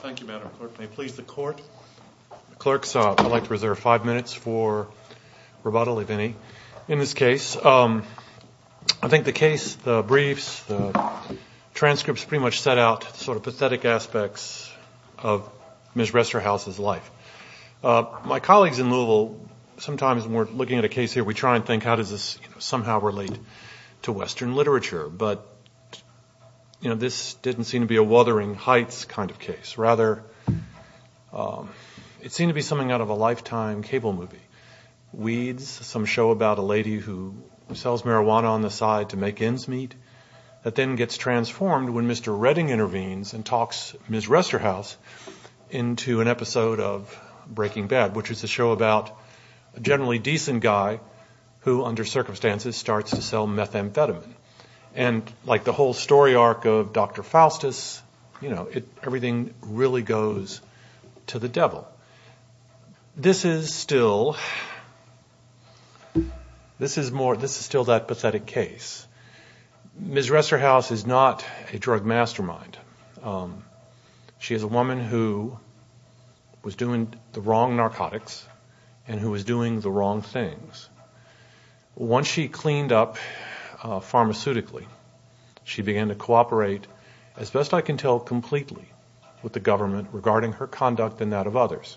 Thank you, Madam Clerk. May it please the Court, the Clerks, I'd like to reserve five minutes for Roboto-Levini. In this case, I think the case, the briefs, the transcripts pretty much set out sort of pathetic aspects of Ms. Resterhouse's life. My colleagues in Louisville, sometimes when we're looking at a case here, we try and think how does this somehow relate to Western literature, but this didn't seem to be a Wuthering Heights kind of case. Rather, it seemed to be something out of a Lifetime cable movie. Weeds, some show about a lady who sells marijuana on the side to make ends meet, that then gets transformed when Mr. Redding intervenes and talks Ms. Resterhouse into an episode of Breaking Bad, which is a show about a generally decent guy who, under circumstances, starts to sell methamphetamine. And like the whole story arc of Dr. Faustus, you know, everything really goes to the devil. But this is still, this is more, this is still that pathetic case. Ms. Resterhouse is not a drug mastermind. She is a woman who was doing the wrong narcotics and who was doing the wrong things. Once she cleaned up pharmaceutically, she began to cooperate, as best I can tell, completely with the government regarding her conduct and that of others.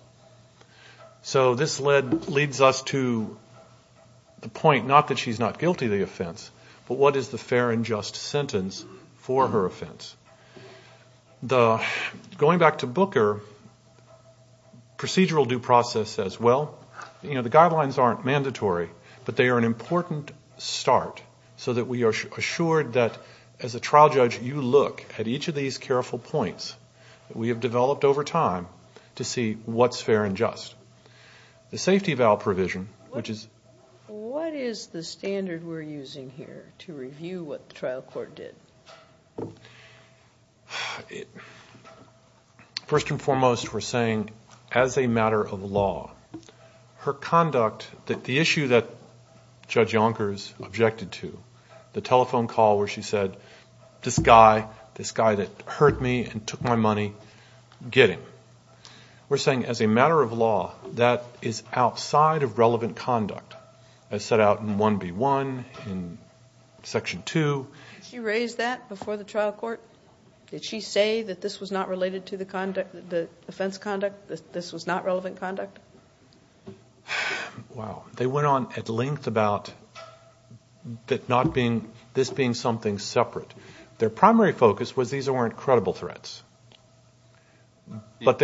So this leads us to the point, not that she's not guilty of the offense, but what is the fair and just sentence for her offense? Going back to Booker, procedural due process as well, you know, the guidelines aren't mandatory, but they are an important start so that we are assured that, as a trial judge, you look at each of these careful points that we have developed over time to see what's fair and just. The safety of our provision, which is What is the standard we're using here to review what the trial court did? First and foremost, we're saying, as a matter of law, her conduct, the issue that Judge Donkers objected to, the telephone call where she said, this guy, this guy that hurt me and took my money, get him. We're saying, as a matter of law, that is outside of relevant conduct as set out in 1B1, in Section 2. Did she raise that before the trial court? Did she say that this was not related to the conduct, the offense conduct, that this was not relevant conduct? Wow. They went on at length about that not being, this being something separate. Their primary focus was these weren't credible threats. What?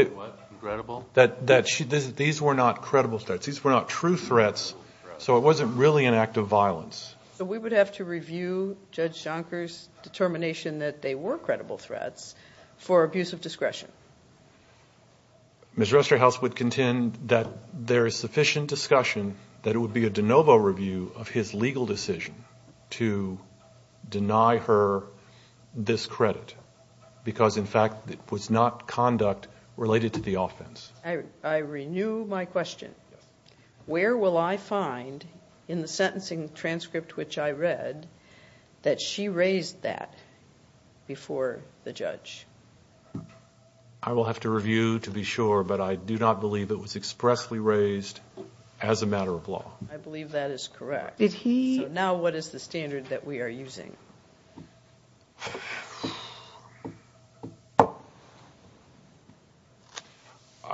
Credible? These were not credible threats. These were not true threats, so it wasn't really an act of violence. So we would have to review Judge Donkers' determination that they were credible threats for abuse of discretion. Ms. Resterhaus would contend that there is sufficient discussion that it would be a de novo review of his legal decision to deny her this credit because, in fact, it was not conduct related to the offense. I renew my question. Where will I find, in the sentencing transcript which I read, that she raised that before the judge? I will have to review to be sure, but I do not believe it was expressly raised as a matter of law. I believe that is correct. Did he? Now what is the standard that we are using? I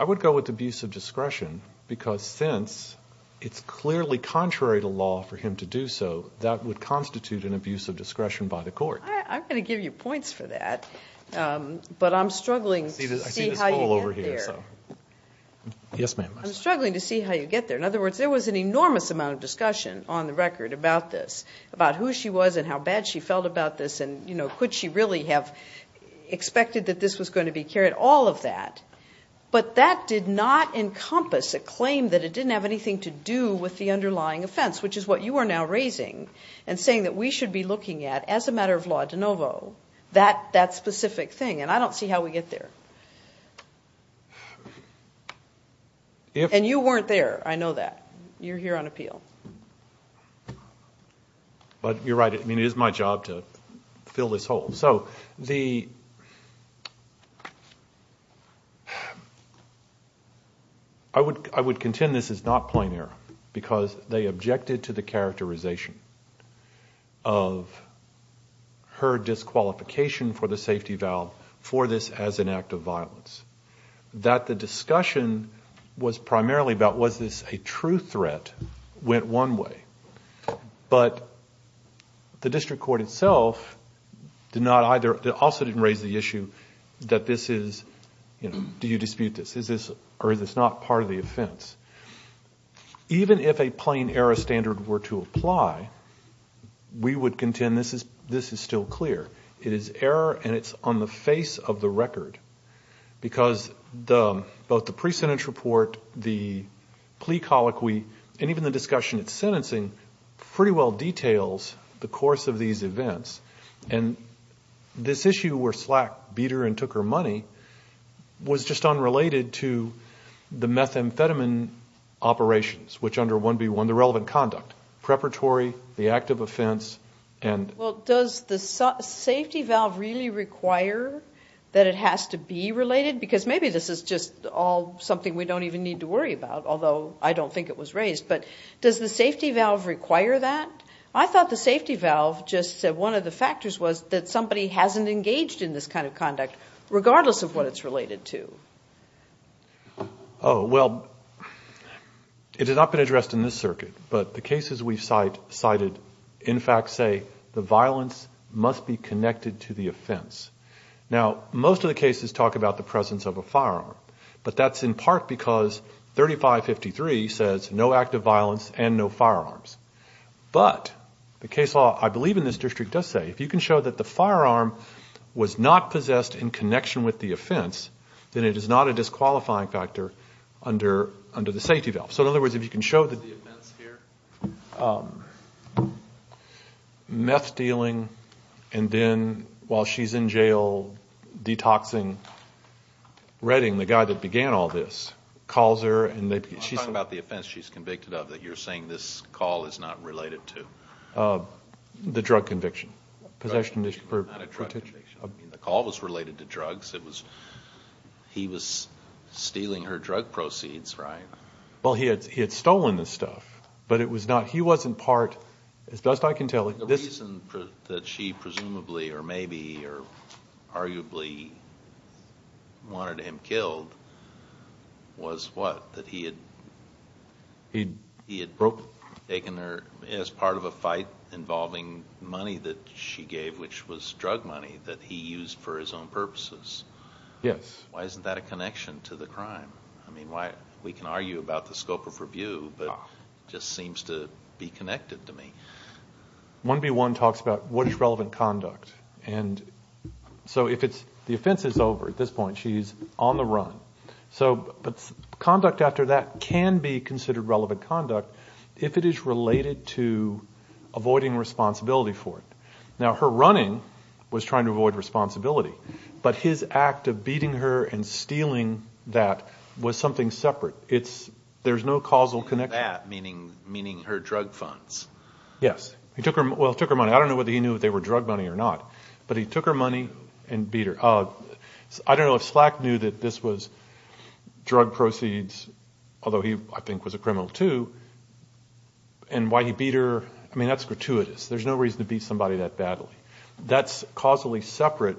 would go with abuse of discretion because, since it's clearly contrary to law for him to do so, that would constitute an abuse of discretion by the court. I'm going to give you points for that, but I'm struggling to see how you get there. Yes, ma'am. I'm struggling to see how you get there. In other words, there was an enormous amount of discussion on the record about this, about who she was and how bad she felt about this and, you know, could she really have expected that this was going to be carried? All of that, but that did not encompass a claim that it didn't have anything to do with the underlying offense, which is what you are now raising and saying that we should be looking at, as a matter of law de novo, that specific thing. I don't see how we get there. You weren't there. I know that. You're here on appeal. You're right. It is my job to fill this hole. I would contend this is not plain error because they objected to the characterization of her disqualification for the safety valve for this as an act of violence. That the discussion was primarily about was this a true threat went one way, but the district court itself also didn't raise the issue that this is, you know, do you dispute this? Is this or is this not part of the offense? Even if a plain error standard were to apply, we would contend this is still clear. It is error and it's on the face of the record because both the pre-sentence report, the plea colloquy, and even the discussion at sentencing pretty well details the course of these events. This issue where Slack beat her and took her money was just unrelated to the methamphetamine operations, which under 1B1, the relevant conduct, preparatory, the act of offense. Does the safety valve really require that it has to be related? Because maybe this is just all something we don't even need to worry about, although I don't think it was raised. But does the safety valve require that? I thought the safety valve just said one of the factors was that somebody hasn't engaged in this kind of conduct, regardless of what it's related to. Oh, well, it has not been addressed in this circuit, but the cases we've cited in fact say the violence must be connected to the offense. Now, most of the cases talk about the presence of a firearm, but that's in part because 3553 says no act of violence and no firearms. But the case law, I believe in this district, does say if you can show that the firearm was not possessed in connection with the offense, then it is not a disqualifying factor under the safety valve. So in other words, if you can show that the offense here, meth dealing and then while she's in jail, detoxing, Redding, the guy that began all this, calls her and she's... I'm talking about the offense she's convicted of that you're saying this call is not related to. The drug conviction. Possession for... Not a drug conviction. I mean, the call was related to drugs. He was stealing her drug proceeds, right? Well, he had stolen the stuff, but it was not... He wasn't part, as best I can tell... The reason that she presumably or maybe or arguably wanted him killed was what? That he had... He had broke... Taken her... As part of a fight involving money that she gave, which was drug money that he used for his own purposes. Yes. Why isn't that a connection to the crime? I mean, we can argue about the scope of review, but it just seems to be connected to me. 1B1 talks about what is relevant conduct. If it's... The offense is over at this point. She's on the run. Conduct after that can be considered relevant conduct if it is related to avoiding responsibility for it. Now, her running was trying to avoid responsibility, but his act of beating her and stealing that was something separate. There's no causal connection. He took her money for that, meaning her drug funds. Yes. He took her money. I don't know whether he knew if they were drug money or not, but he took her money and beat her. I don't know if Slack knew that this was drug proceeds, although he, I think, was a criminal too, and why he beat her... I mean, that's gratuitous. There's no reason to beat somebody that badly. That's causally separate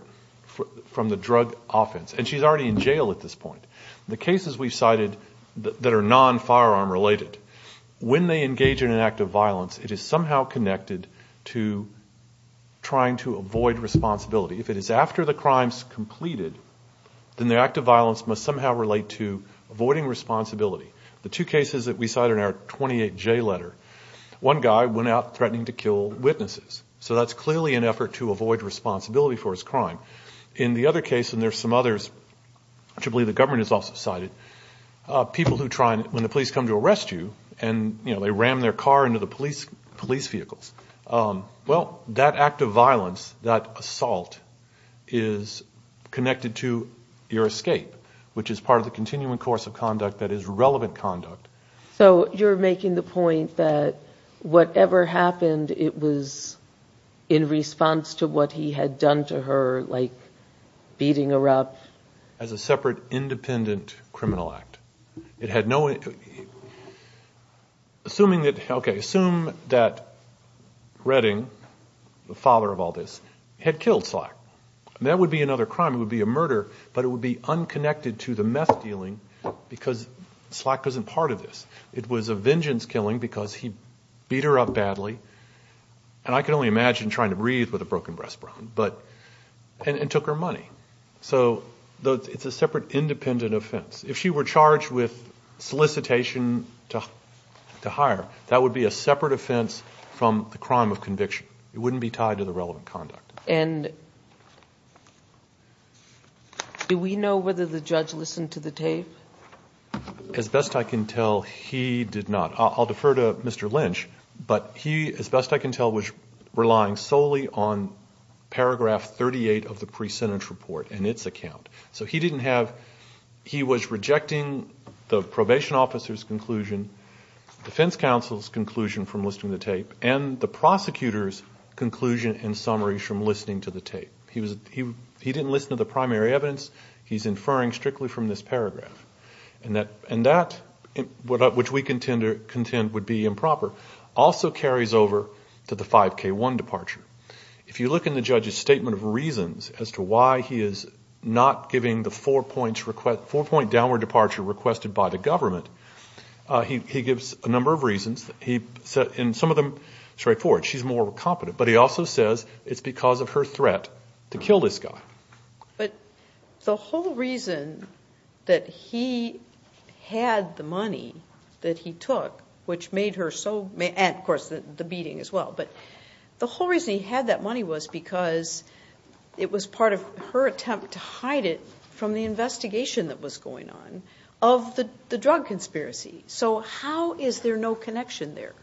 from the drug offense. She's already in jail at this point. The cases we've cited that are non-firearm related, when they engage in an act of violence, it is somehow connected to trying to avoid responsibility. If it is after the crime's completed, then the act of violence must somehow relate to avoiding responsibility. The two cases that we cite in our 28J letter, one guy went out threatening to kill witnesses, so that's clearly an effort to avoid responsibility for his crime. In the other case, and there's some others, which I believe the government has also cited, people who try, when the police come to arrest you, and they ram their car into the police vehicles, well, that act of violence, that assault, is connected to your escape, which is part of the continuing course of conduct that is relevant conduct. You're making the point that whatever happened, it was in response to what he had done to her, beating her up. As a separate, independent criminal act. Assume that Redding, the father of all this, had killed Slack. That would be another crime. It would be a murder, but it would be unconnected to the meth dealing because Slack wasn't part of this. It was a vengeance killing because he beat her up badly, and I can only imagine trying to breathe with a broken breastbone. But, and took her money. So, it's a separate, independent offense. If she were charged with solicitation to hire, that would be a separate offense from the crime of conviction. It wouldn't be tied to the relevant conduct. And do we know whether the judge listened to the tape? As best I can tell, he did not. I'll defer to Mr. Lynch, but he, as best I can tell, was relying solely on paragraph 38 of the pre-sentence report and its account. So, he didn't have, he was rejecting the probation officer's conclusion, defense counsel's conclusion from listening to the tape, and the prosecutor's conclusion and summaries from listening to the tape. He didn't listen to the primary evidence. He's inferring strictly from this paragraph. And that, which we contend would be improper, also carries over to the fact that she was charged with a 5K1 departure. If you look in the judge's statement of reasons as to why he is not giving the four-point downward departure requested by the government, he gives a number of reasons. He said, and some of them straightforward, she's more competent, but he also says it's because of her threat to kill this guy. But the whole reason that he had the money that he took, which made her so, and of course the beating as well, but the whole reason he had that money was because it was part of her attempt to hide it from the investigation that was going on of the drug conspiracy. So how is there no connection there?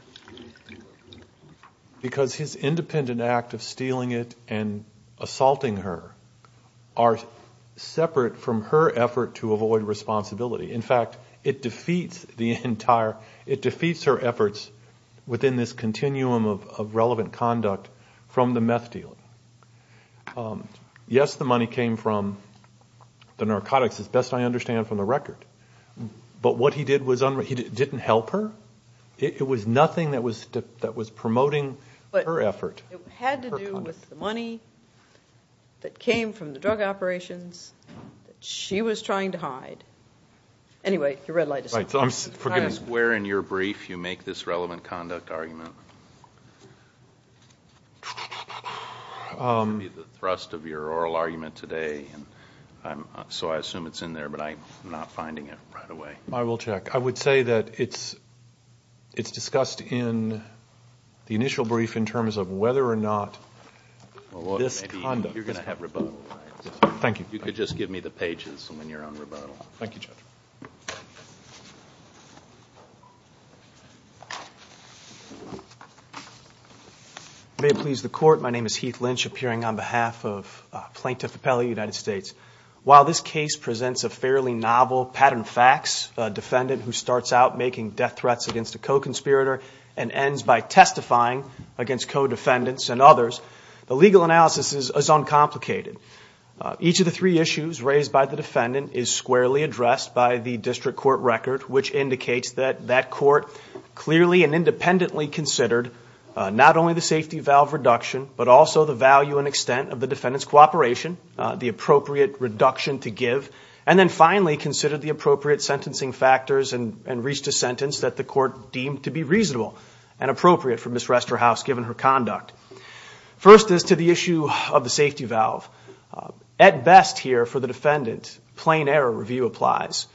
Because his independent act of stealing it and assaulting her are separate from her effort to avoid responsibility. In fact, it defeats her efforts within this continuum of relevant conduct from the meth deal. Yes, the money came from the narcotics, as best I understand from the record. But what he did was, he didn't help her. It was nothing that was promoting her effort. It had to do with the money that came from the drug operations that she was trying to hide. Anyway, your red light is on. Right, so I'm forgetting. Where in your brief do you make this relevant conduct argument? It's going to be the thrust of your oral argument today, so I assume it's in there, but I'm not finding it right away. I will check. I would say that it's discussed in the initial brief in terms of whether or not this conduct is relevant. You could just give me the pages when you're on rebuttal. May it please the Court, my name is Heath Lynch, appearing on behalf of Plaintiff Appellee United States. While this case presents a fairly novel pattern of facts, a defendant who starts out making death threats against a co-conspirator and ends by testifying against co-defendants and others, the legal analysis is uncomplicated. Each of the three issues raised by the defendant is squarely addressed by the district court record, which indicates that that court clearly and independently considered not only the appropriate reduction to give, and then finally considered the appropriate sentencing factors and reached a sentence that the court deemed to be reasonable and appropriate for Ms. Resterhaus given her conduct. First is to the issue of the safety valve. At best here for the defendant, plain error review applies.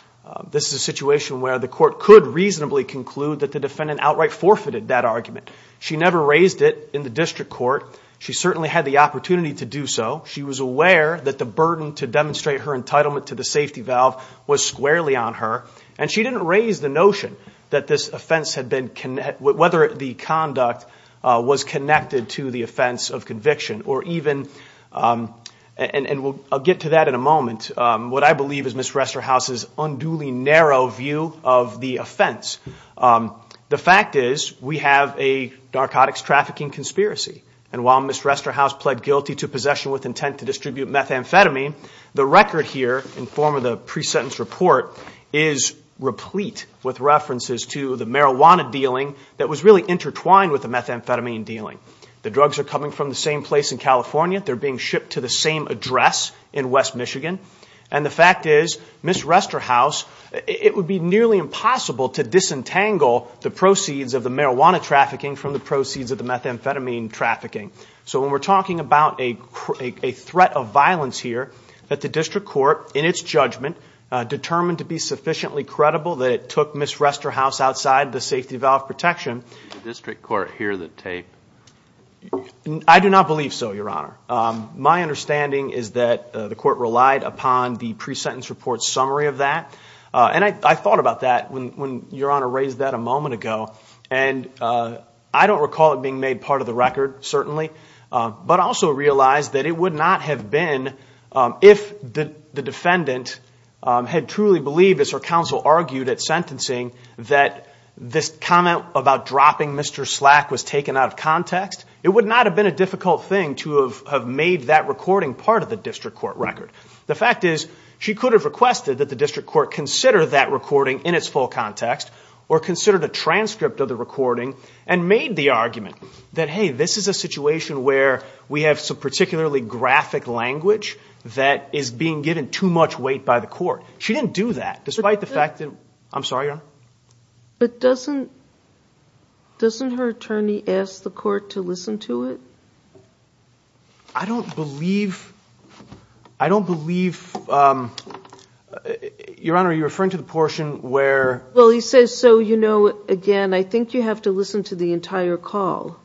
This is a situation where the court could reasonably conclude that the defendant outright forfeited that argument. She never raised it in the district court. She certainly had the opportunity to do so. She was aware that the burden to demonstrate her entitlement to the safety valve was squarely on her, and she didn't raise the notion that this offense had been, whether the conduct was connected to the offense of conviction or even, and we'll get to that in a moment, what I believe is Ms. Resterhaus's unduly narrow view of the offense. The fact is we have a narcotics trafficking conspiracy, and while Ms. Resterhaus pled guilty to possession with intent to distribute methamphetamine, the record here in form of the pre-sentence report is replete with references to the marijuana dealing that was really intertwined with the methamphetamine dealing. The drugs are coming from the same place in California. They're being shipped to the same address in West Michigan, and the fact is Ms. Resterhaus, it would be nearly impossible to disentangle the proceeds of the marijuana trafficking from the proceeds of the methamphetamine trafficking. So when we're talking about a threat of violence here that the district court, in its judgment, determined to be sufficiently credible that it took Ms. Resterhaus outside the safety valve protection. Did the district court hear the tape? I do not believe so, Your Honor. My understanding is that the court relied upon the pre-sentence report summary of that, and I thought about that when Your Honor raised that a moment ago, and I don't recall it being made part of the record, certainly, but I also realize that it would not have been if the defendant had truly believed, as her counsel argued at sentencing, that this comment about dropping Mr. Slack was taken out of context. It would not have been a difficult thing to have made that recording part of the district court record. The fact is, she could have requested that the district court consider that recording in its full context, or considered a transcript of the recording, and made the argument that, hey, this is a situation where we have some particularly graphic language that is being given too much weight by the court. She didn't do that, despite the fact that... I'm sorry, Your Honor? But doesn't her attorney ask the court to listen to it? I don't believe... I don't believe... Your Honor, are you referring to the portion where... Well, he says, so, you know, again, I think you have to listen to the entire call.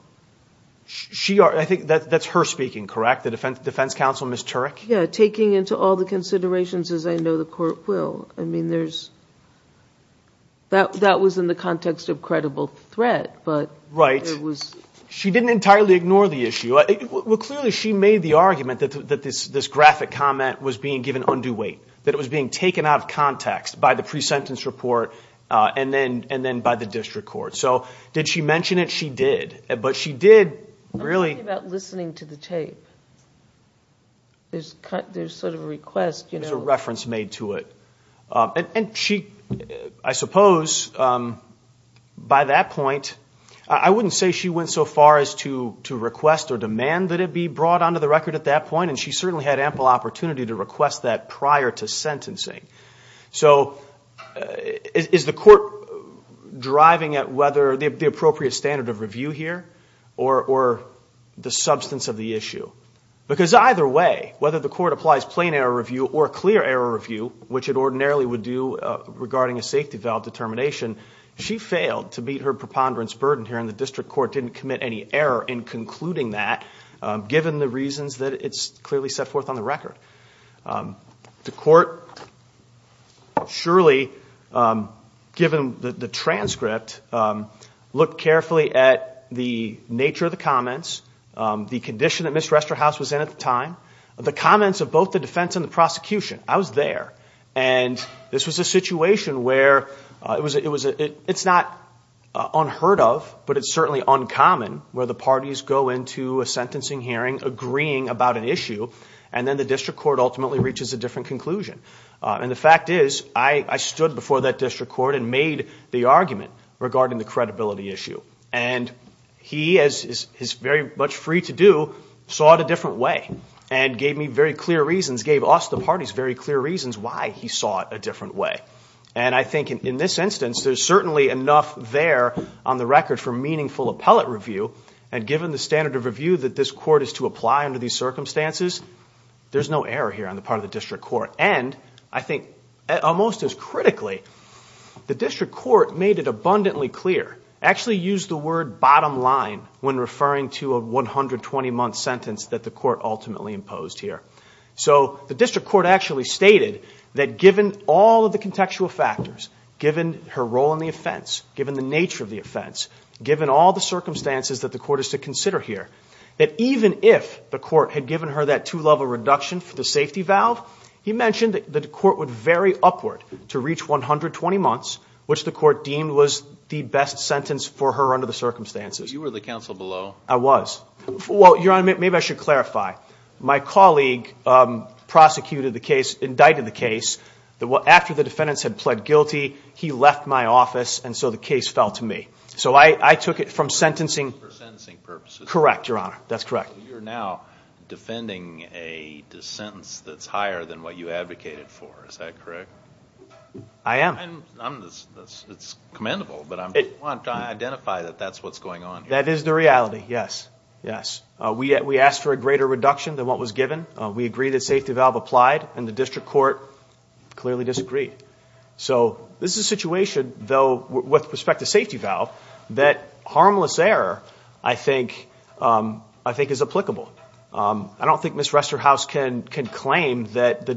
She... I think that's her speaking, correct? The defense counsel, Ms. Turek? Yeah, taking into all the considerations, as I know the court will. I mean, there's... That was in the context of credible threat, but... She didn't entirely ignore the issue. Well, clearly, she made the argument that this graphic comment was being given undue weight, that it was being taken out of context by the pre-sentence report, and then by the district court. So, did she mention it? She did, but she did really... I'm talking about listening to the tape. There's sort of a request, you know... And she... I suppose, by that point, I wouldn't say she went so far as to request or demand that it be brought onto the record at that point, and she certainly had ample opportunity to request that prior to sentencing. So, is the court driving at whether the appropriate standard of review here, or the substance of the issue? Because either way, whether the court applies plain error review or clear error review, which it ordinarily would do regarding a safety valve determination, she failed to meet her preponderance burden here, and the district court didn't commit any error in concluding that, given the reasons that it's clearly set forth on the record. The court surely, given the transcript, looked carefully at the nature of the comments, the condition that Ms. Resterhaus was in at the time, the comments of both the defense and the prosecution. I was there, and this was a situation where... It's not unheard of, but it's certainly uncommon where the parties go into a sentencing hearing agreeing about an issue, and then the district court ultimately reaches a different conclusion. And the fact is, I stood before that district court and made the argument regarding the credibility issue. And he, as is very much free to do, saw it a different way, and gave me very clear reasons, gave us, the parties, very clear reasons why he saw it a different way. And I think in this instance, there's certainly enough there on the record for meaningful appellate review, and given the standard of review that this court is to apply under these circumstances, there's no error here on the part of the district court. And, I think, almost as critically, the district court made it abundantly clear, actually used the word bottom line when referring to a 120-month sentence that the court ultimately imposed here. So, the district court actually stated that given all of the contextual factors, given her role in the offense, given the nature of the offense, given all the circumstances that the court is to consider here, that even if the court had given her that two-level reduction for the safety valve, he mentioned that the court would vary upward to reach 120 months, which the court deemed was the best sentence for her under the circumstances. You were the counsel below. I was. Well, Your Honor, maybe I should clarify. My colleague prosecuted the case, indicted the case, that after the defendants had pled guilty, he left my office, and so the case fell to me. So, I took it from sentencing... For sentencing purposes. Correct, Your Honor. That's correct. So, you're now defending a sentence that's higher than what you advocated for. Is that correct? I am. It's commendable, but I want to identify that that's what's going on here. That is the reality, yes. Yes. We asked for a greater reduction than what was given. We agree that safety valve applied, and the district court clearly disagreed. So, this is a situation, though, with respect to safety valve, that harmless error, I think, is applicable. I don't think Ms. Resterhaus can claim that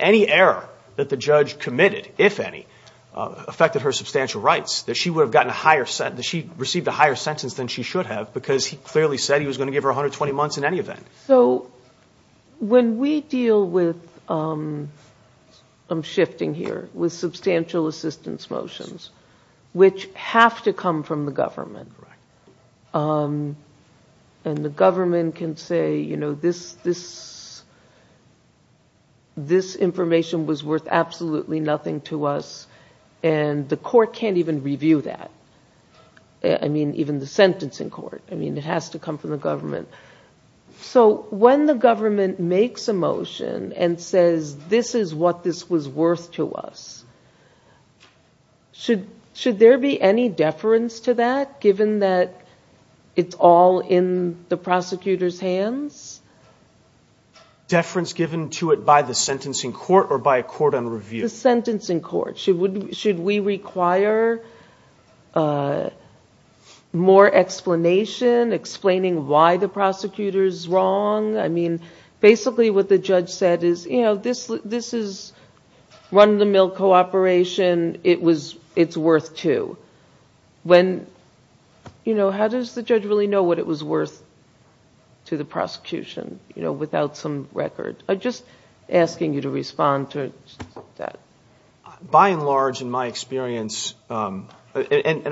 any error that the judge committed, if any, affected her substantial rights, that she received a higher sentence than she should have, because he clearly said he was going to give her 120 months in any event. So, when we deal with, I'm shifting here, with substantial assistance motions, which have to come from the government, and the government can say, you know, this information was worth absolutely nothing to us, and the court can't even review that, I mean, even the sentencing court. I mean, it has to come from the government. So, when the government makes a motion and says, this is what this was worth to us, should there be any deference to that, given that it's all in the prosecutor's hands? Deference given to it by the sentencing court or by a court on review? The sentencing court. Should we require more explanation, explaining why the prosecutor's wrong? I mean, basically what the judge said is, you know, this is run-of-the-mill cooperation. It's worth two. How does the judge really know what it was worth to the prosecution, you know, without some record? I'm just asking you to respond to that. By and large, in my experience, and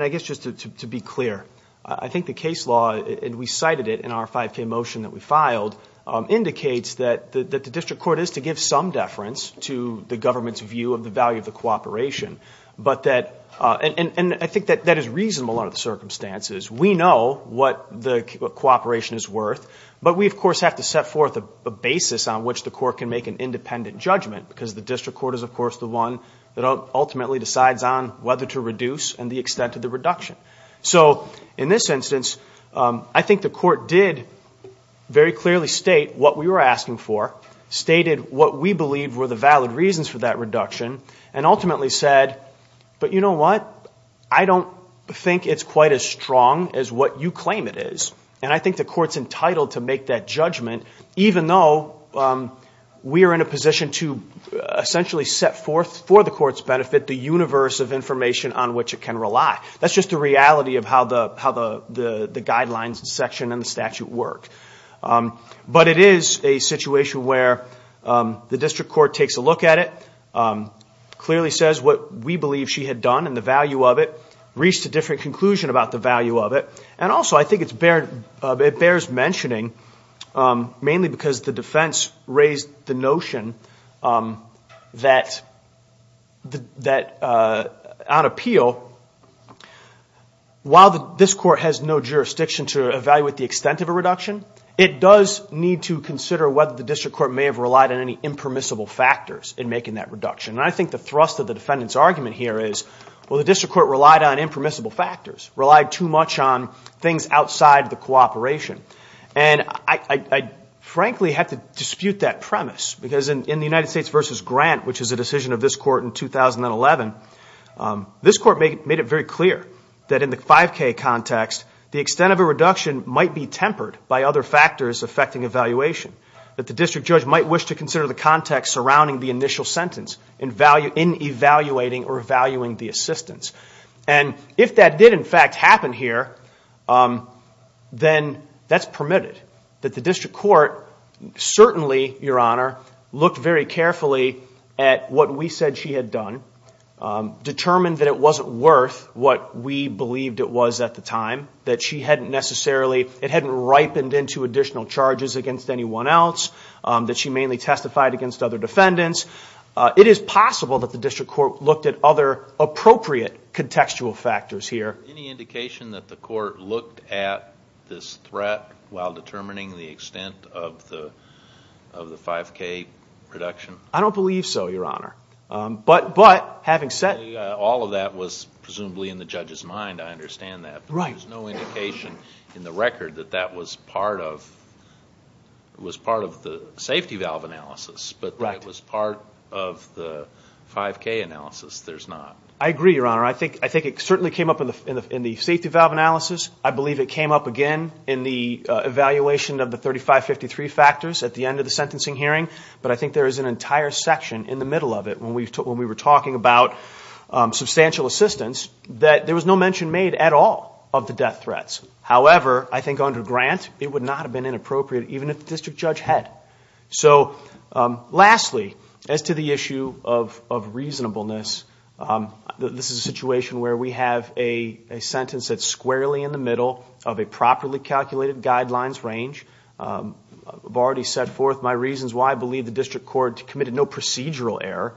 I guess just to be clear, I think the case law, and we cited it in our 5K motion that we filed, indicates that the district court is to give some deference to the government's view of the value of the cooperation, and I think that that is reasonable under the circumstances. We know what the cooperation is worth, but we, of course, have to set forth a basis on which the court can make an independent judgment, because the district court is, of course, the one that ultimately decides on whether to reduce and the extent of the reduction. So in this instance, I think the court did very clearly state what we were asking for, stated what we believe were the valid reasons for that reduction, and ultimately said, but you know what, I don't think it's quite as strong as what you claim it is, and I think the court's entitled to make that judgment, even though we are in a position to essentially set forth for the court's benefit the universe of information on which it can rely. That's just the reality of how the guidelines section and the statute work. But it is a situation where the district court takes a look at it, clearly says what we believe she had done and the value of it, reached a different conclusion about the value of it, And also I think it bears mentioning, mainly because the defense raised the notion that on appeal, while this court has no jurisdiction to evaluate the extent of a reduction, it does need to consider whether the district court may have relied on any impermissible factors in making that reduction. And I think the thrust of the defendant's argument here is, well, the district court relied on impermissible factors, relied too much on things outside the cooperation. And I frankly have to dispute that premise, because in the United States v. Grant, which is a decision of this court in 2011, this court made it very clear that in the 5K context, the extent of a reduction might be tempered by other factors affecting evaluation, that the district judge might wish to consider the context surrounding the initial sentence in evaluating or valuing the assistance. And if that did in fact happen here, then that's permitted. That the district court certainly, Your Honor, looked very carefully at what we said she had done, determined that it wasn't worth what we believed it was at the time, that she hadn't necessarily, it hadn't ripened into additional charges against anyone else, that she mainly testified against other defendants. It is possible that the district court looked at other appropriate contextual factors here. Any indication that the court looked at this threat while determining the extent of the 5K reduction? I don't believe so, Your Honor. But having said that... All of that was presumably in the judge's mind, I understand that. But there's no indication in the record that that was part of the safety valve analysis, but that it was part of the 5K analysis. There's not. I agree, Your Honor. I think it certainly came up in the safety valve analysis. I believe it came up again in the evaluation of the 3553 factors at the end of the sentencing hearing. But I think there is an entire section in the middle of it when we were talking about substantial assistance that there was no mention made at all of the death threats. However, I think under Grant, it would not have been inappropriate even if the district judge had. So lastly, as to the issue of reasonableness, this is a situation where we have a sentence that's squarely in the middle of a properly calculated guidelines range. I've already set forth my reasons why I believe the district court committed no procedural error.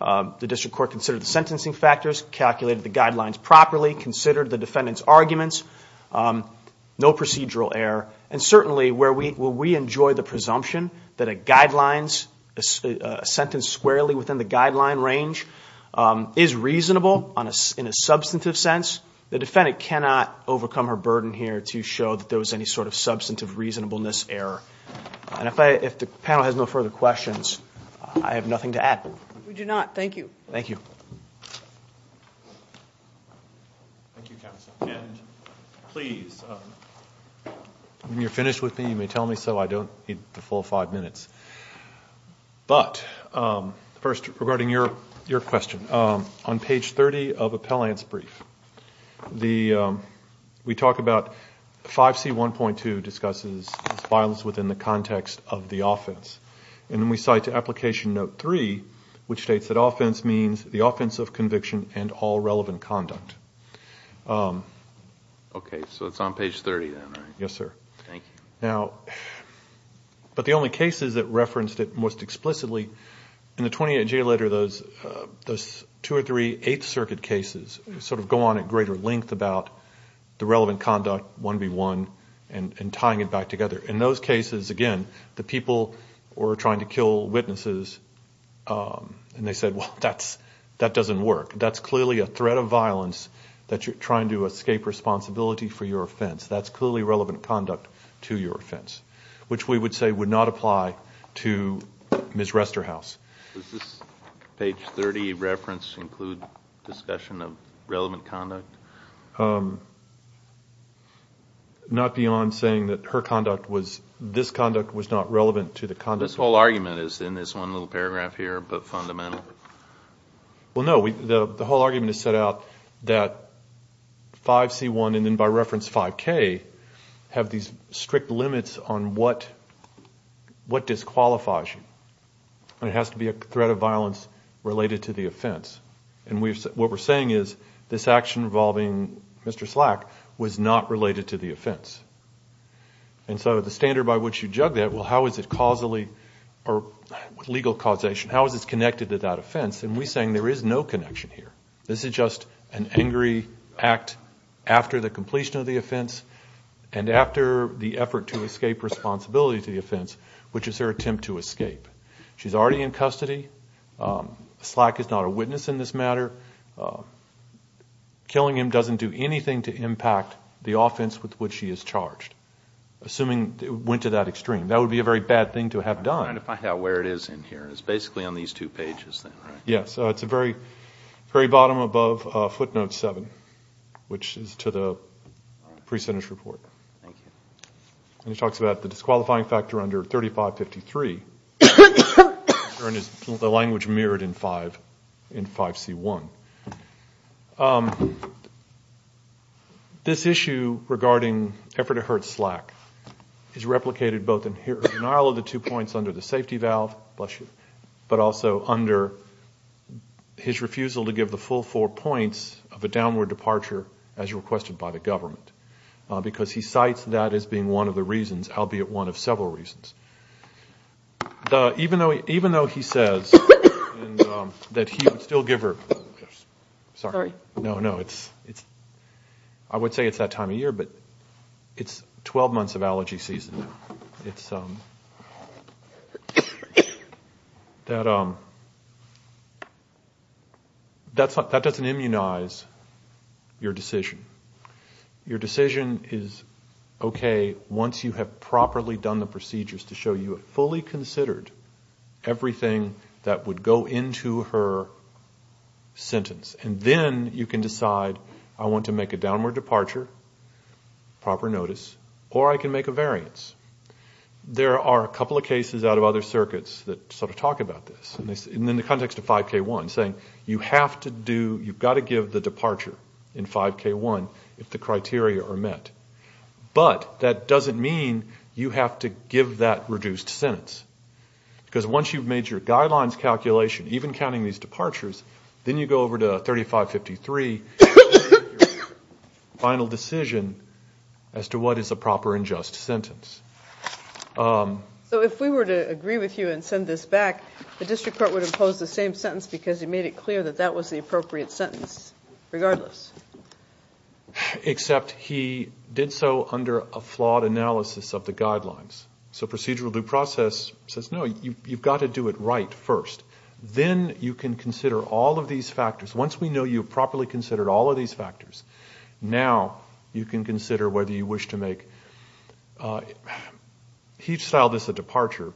The district court considered the sentencing factors, calculated the guidelines properly, considered the defendant's arguments. No procedural error. And certainly where we enjoy the presumption that a sentence squarely within the guideline range is reasonable in a substantive sense, the defendant cannot overcome her burden here to show that there was any sort of substantive reasonableness error. And if the panel has no further questions, I have nothing to add. We do not. Thank you. Thank you, counsel. And please, when you're finished with me, you may tell me so. I don't need the full five minutes. But first, regarding your question, on page 30 of Appellant's brief, we talk about 5C1.2 discusses violence within the context of the offense. And then we cite to Application Note 3, which states that offense means the offense of conviction and all relevant conduct. Okay. So it's on page 30 then, right? Yes, sir. Thank you. Now, but the only cases that referenced it most explicitly, in the 28-J letter, those two or three Eighth Circuit cases sort of go on at greater length about the relevant conduct, 1B1, and tying it back together. In those cases, again, the people were trying to kill witnesses, and they said, well, that doesn't work. That's clearly a threat of violence that you're trying to escape responsibility for your offense. That's clearly relevant conduct to your offense, which we would say would not apply to Ms. Resterhaus. Does this page 30 reference include discussion of relevant conduct? Not beyond saying that her conduct was, this conduct was not relevant to the conduct? This whole argument is in this one little paragraph here, but fundamental. Well, no, the whole argument is set out that 5C1 and then by reference 5K have these strict limits on what disqualifies you. And it has to be a threat of violence related to the offense. And what we're saying is this action involving Mr. Slack was not related to the offense. And so the standard by which you jug that, well, how is it causally, or legal causation, how is this connected to that offense? And we're saying there is no connection here. This is just an angry act after the completion of the offense and after the effort to escape responsibility to the offense, which is her attempt to escape. She's already in custody. Slack is not a witness in this matter. Killing him doesn't do anything to impact the offense with which she is charged, assuming it went to that extreme. That would be a very bad thing to have done. I'm trying to find out where it is in here. It's basically on these two pages then, right? Yes, it's the very bottom above footnote 7, which is to the pre-sentence report. Thank you. And he talks about the disqualifying factor under 3553. The language mirrored in 5C1. This issue regarding effort to hurt Slack is replicated both in denial of the two points under the safety valve, bless you, but also under his refusal to give the full four points of a downward departure as requested by the government because he cites that as being one of the reasons, albeit one of several reasons. Even though he says that he would still give her – sorry. No, no. I would say it's that time of year, but it's 12 months of allergy season now. That doesn't immunize your decision. Your decision is okay once you have properly done the procedures to show you have fully considered everything that would go into her sentence, and then you can decide I want to make a downward departure, proper notice, or I can make a variance. There are a couple of cases out of other circuits that sort of talk about this, and in the context of 5K1 saying you have to do – you've got to give the departure in 5K1 if the criteria are met. But that doesn't mean you have to give that reduced sentence because once you've made your guidelines calculation, even counting these departures, then you go over to 3553 and make your final decision as to what is a proper and just sentence. So if we were to agree with you and send this back, the district court would impose the same sentence because he made it clear that that was the appropriate sentence regardless? Except he did so under a flawed analysis of the guidelines. So procedural due process says, no, you've got to do it right first. Then you can consider all of these factors. Once we know you've properly considered all of these factors, now you can consider whether you wish to make each style of this a departure.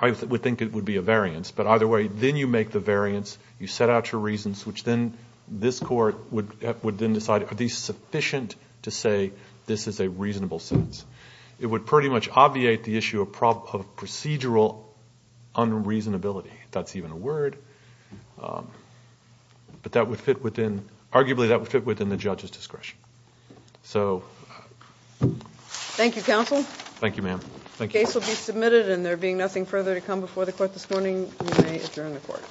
I would think it would be a variance, but either way, then you make the variance. You set out your reasons, which then this court would then decide, are these sufficient to say this is a reasonable sentence? It would pretty much obviate the issue of procedural unreasonability, if that's even a word. But arguably that would fit within the judge's discretion. Thank you, counsel. Thank you, ma'am. The case will be submitted and there being nothing further to come before the court this morning, we may adjourn the court.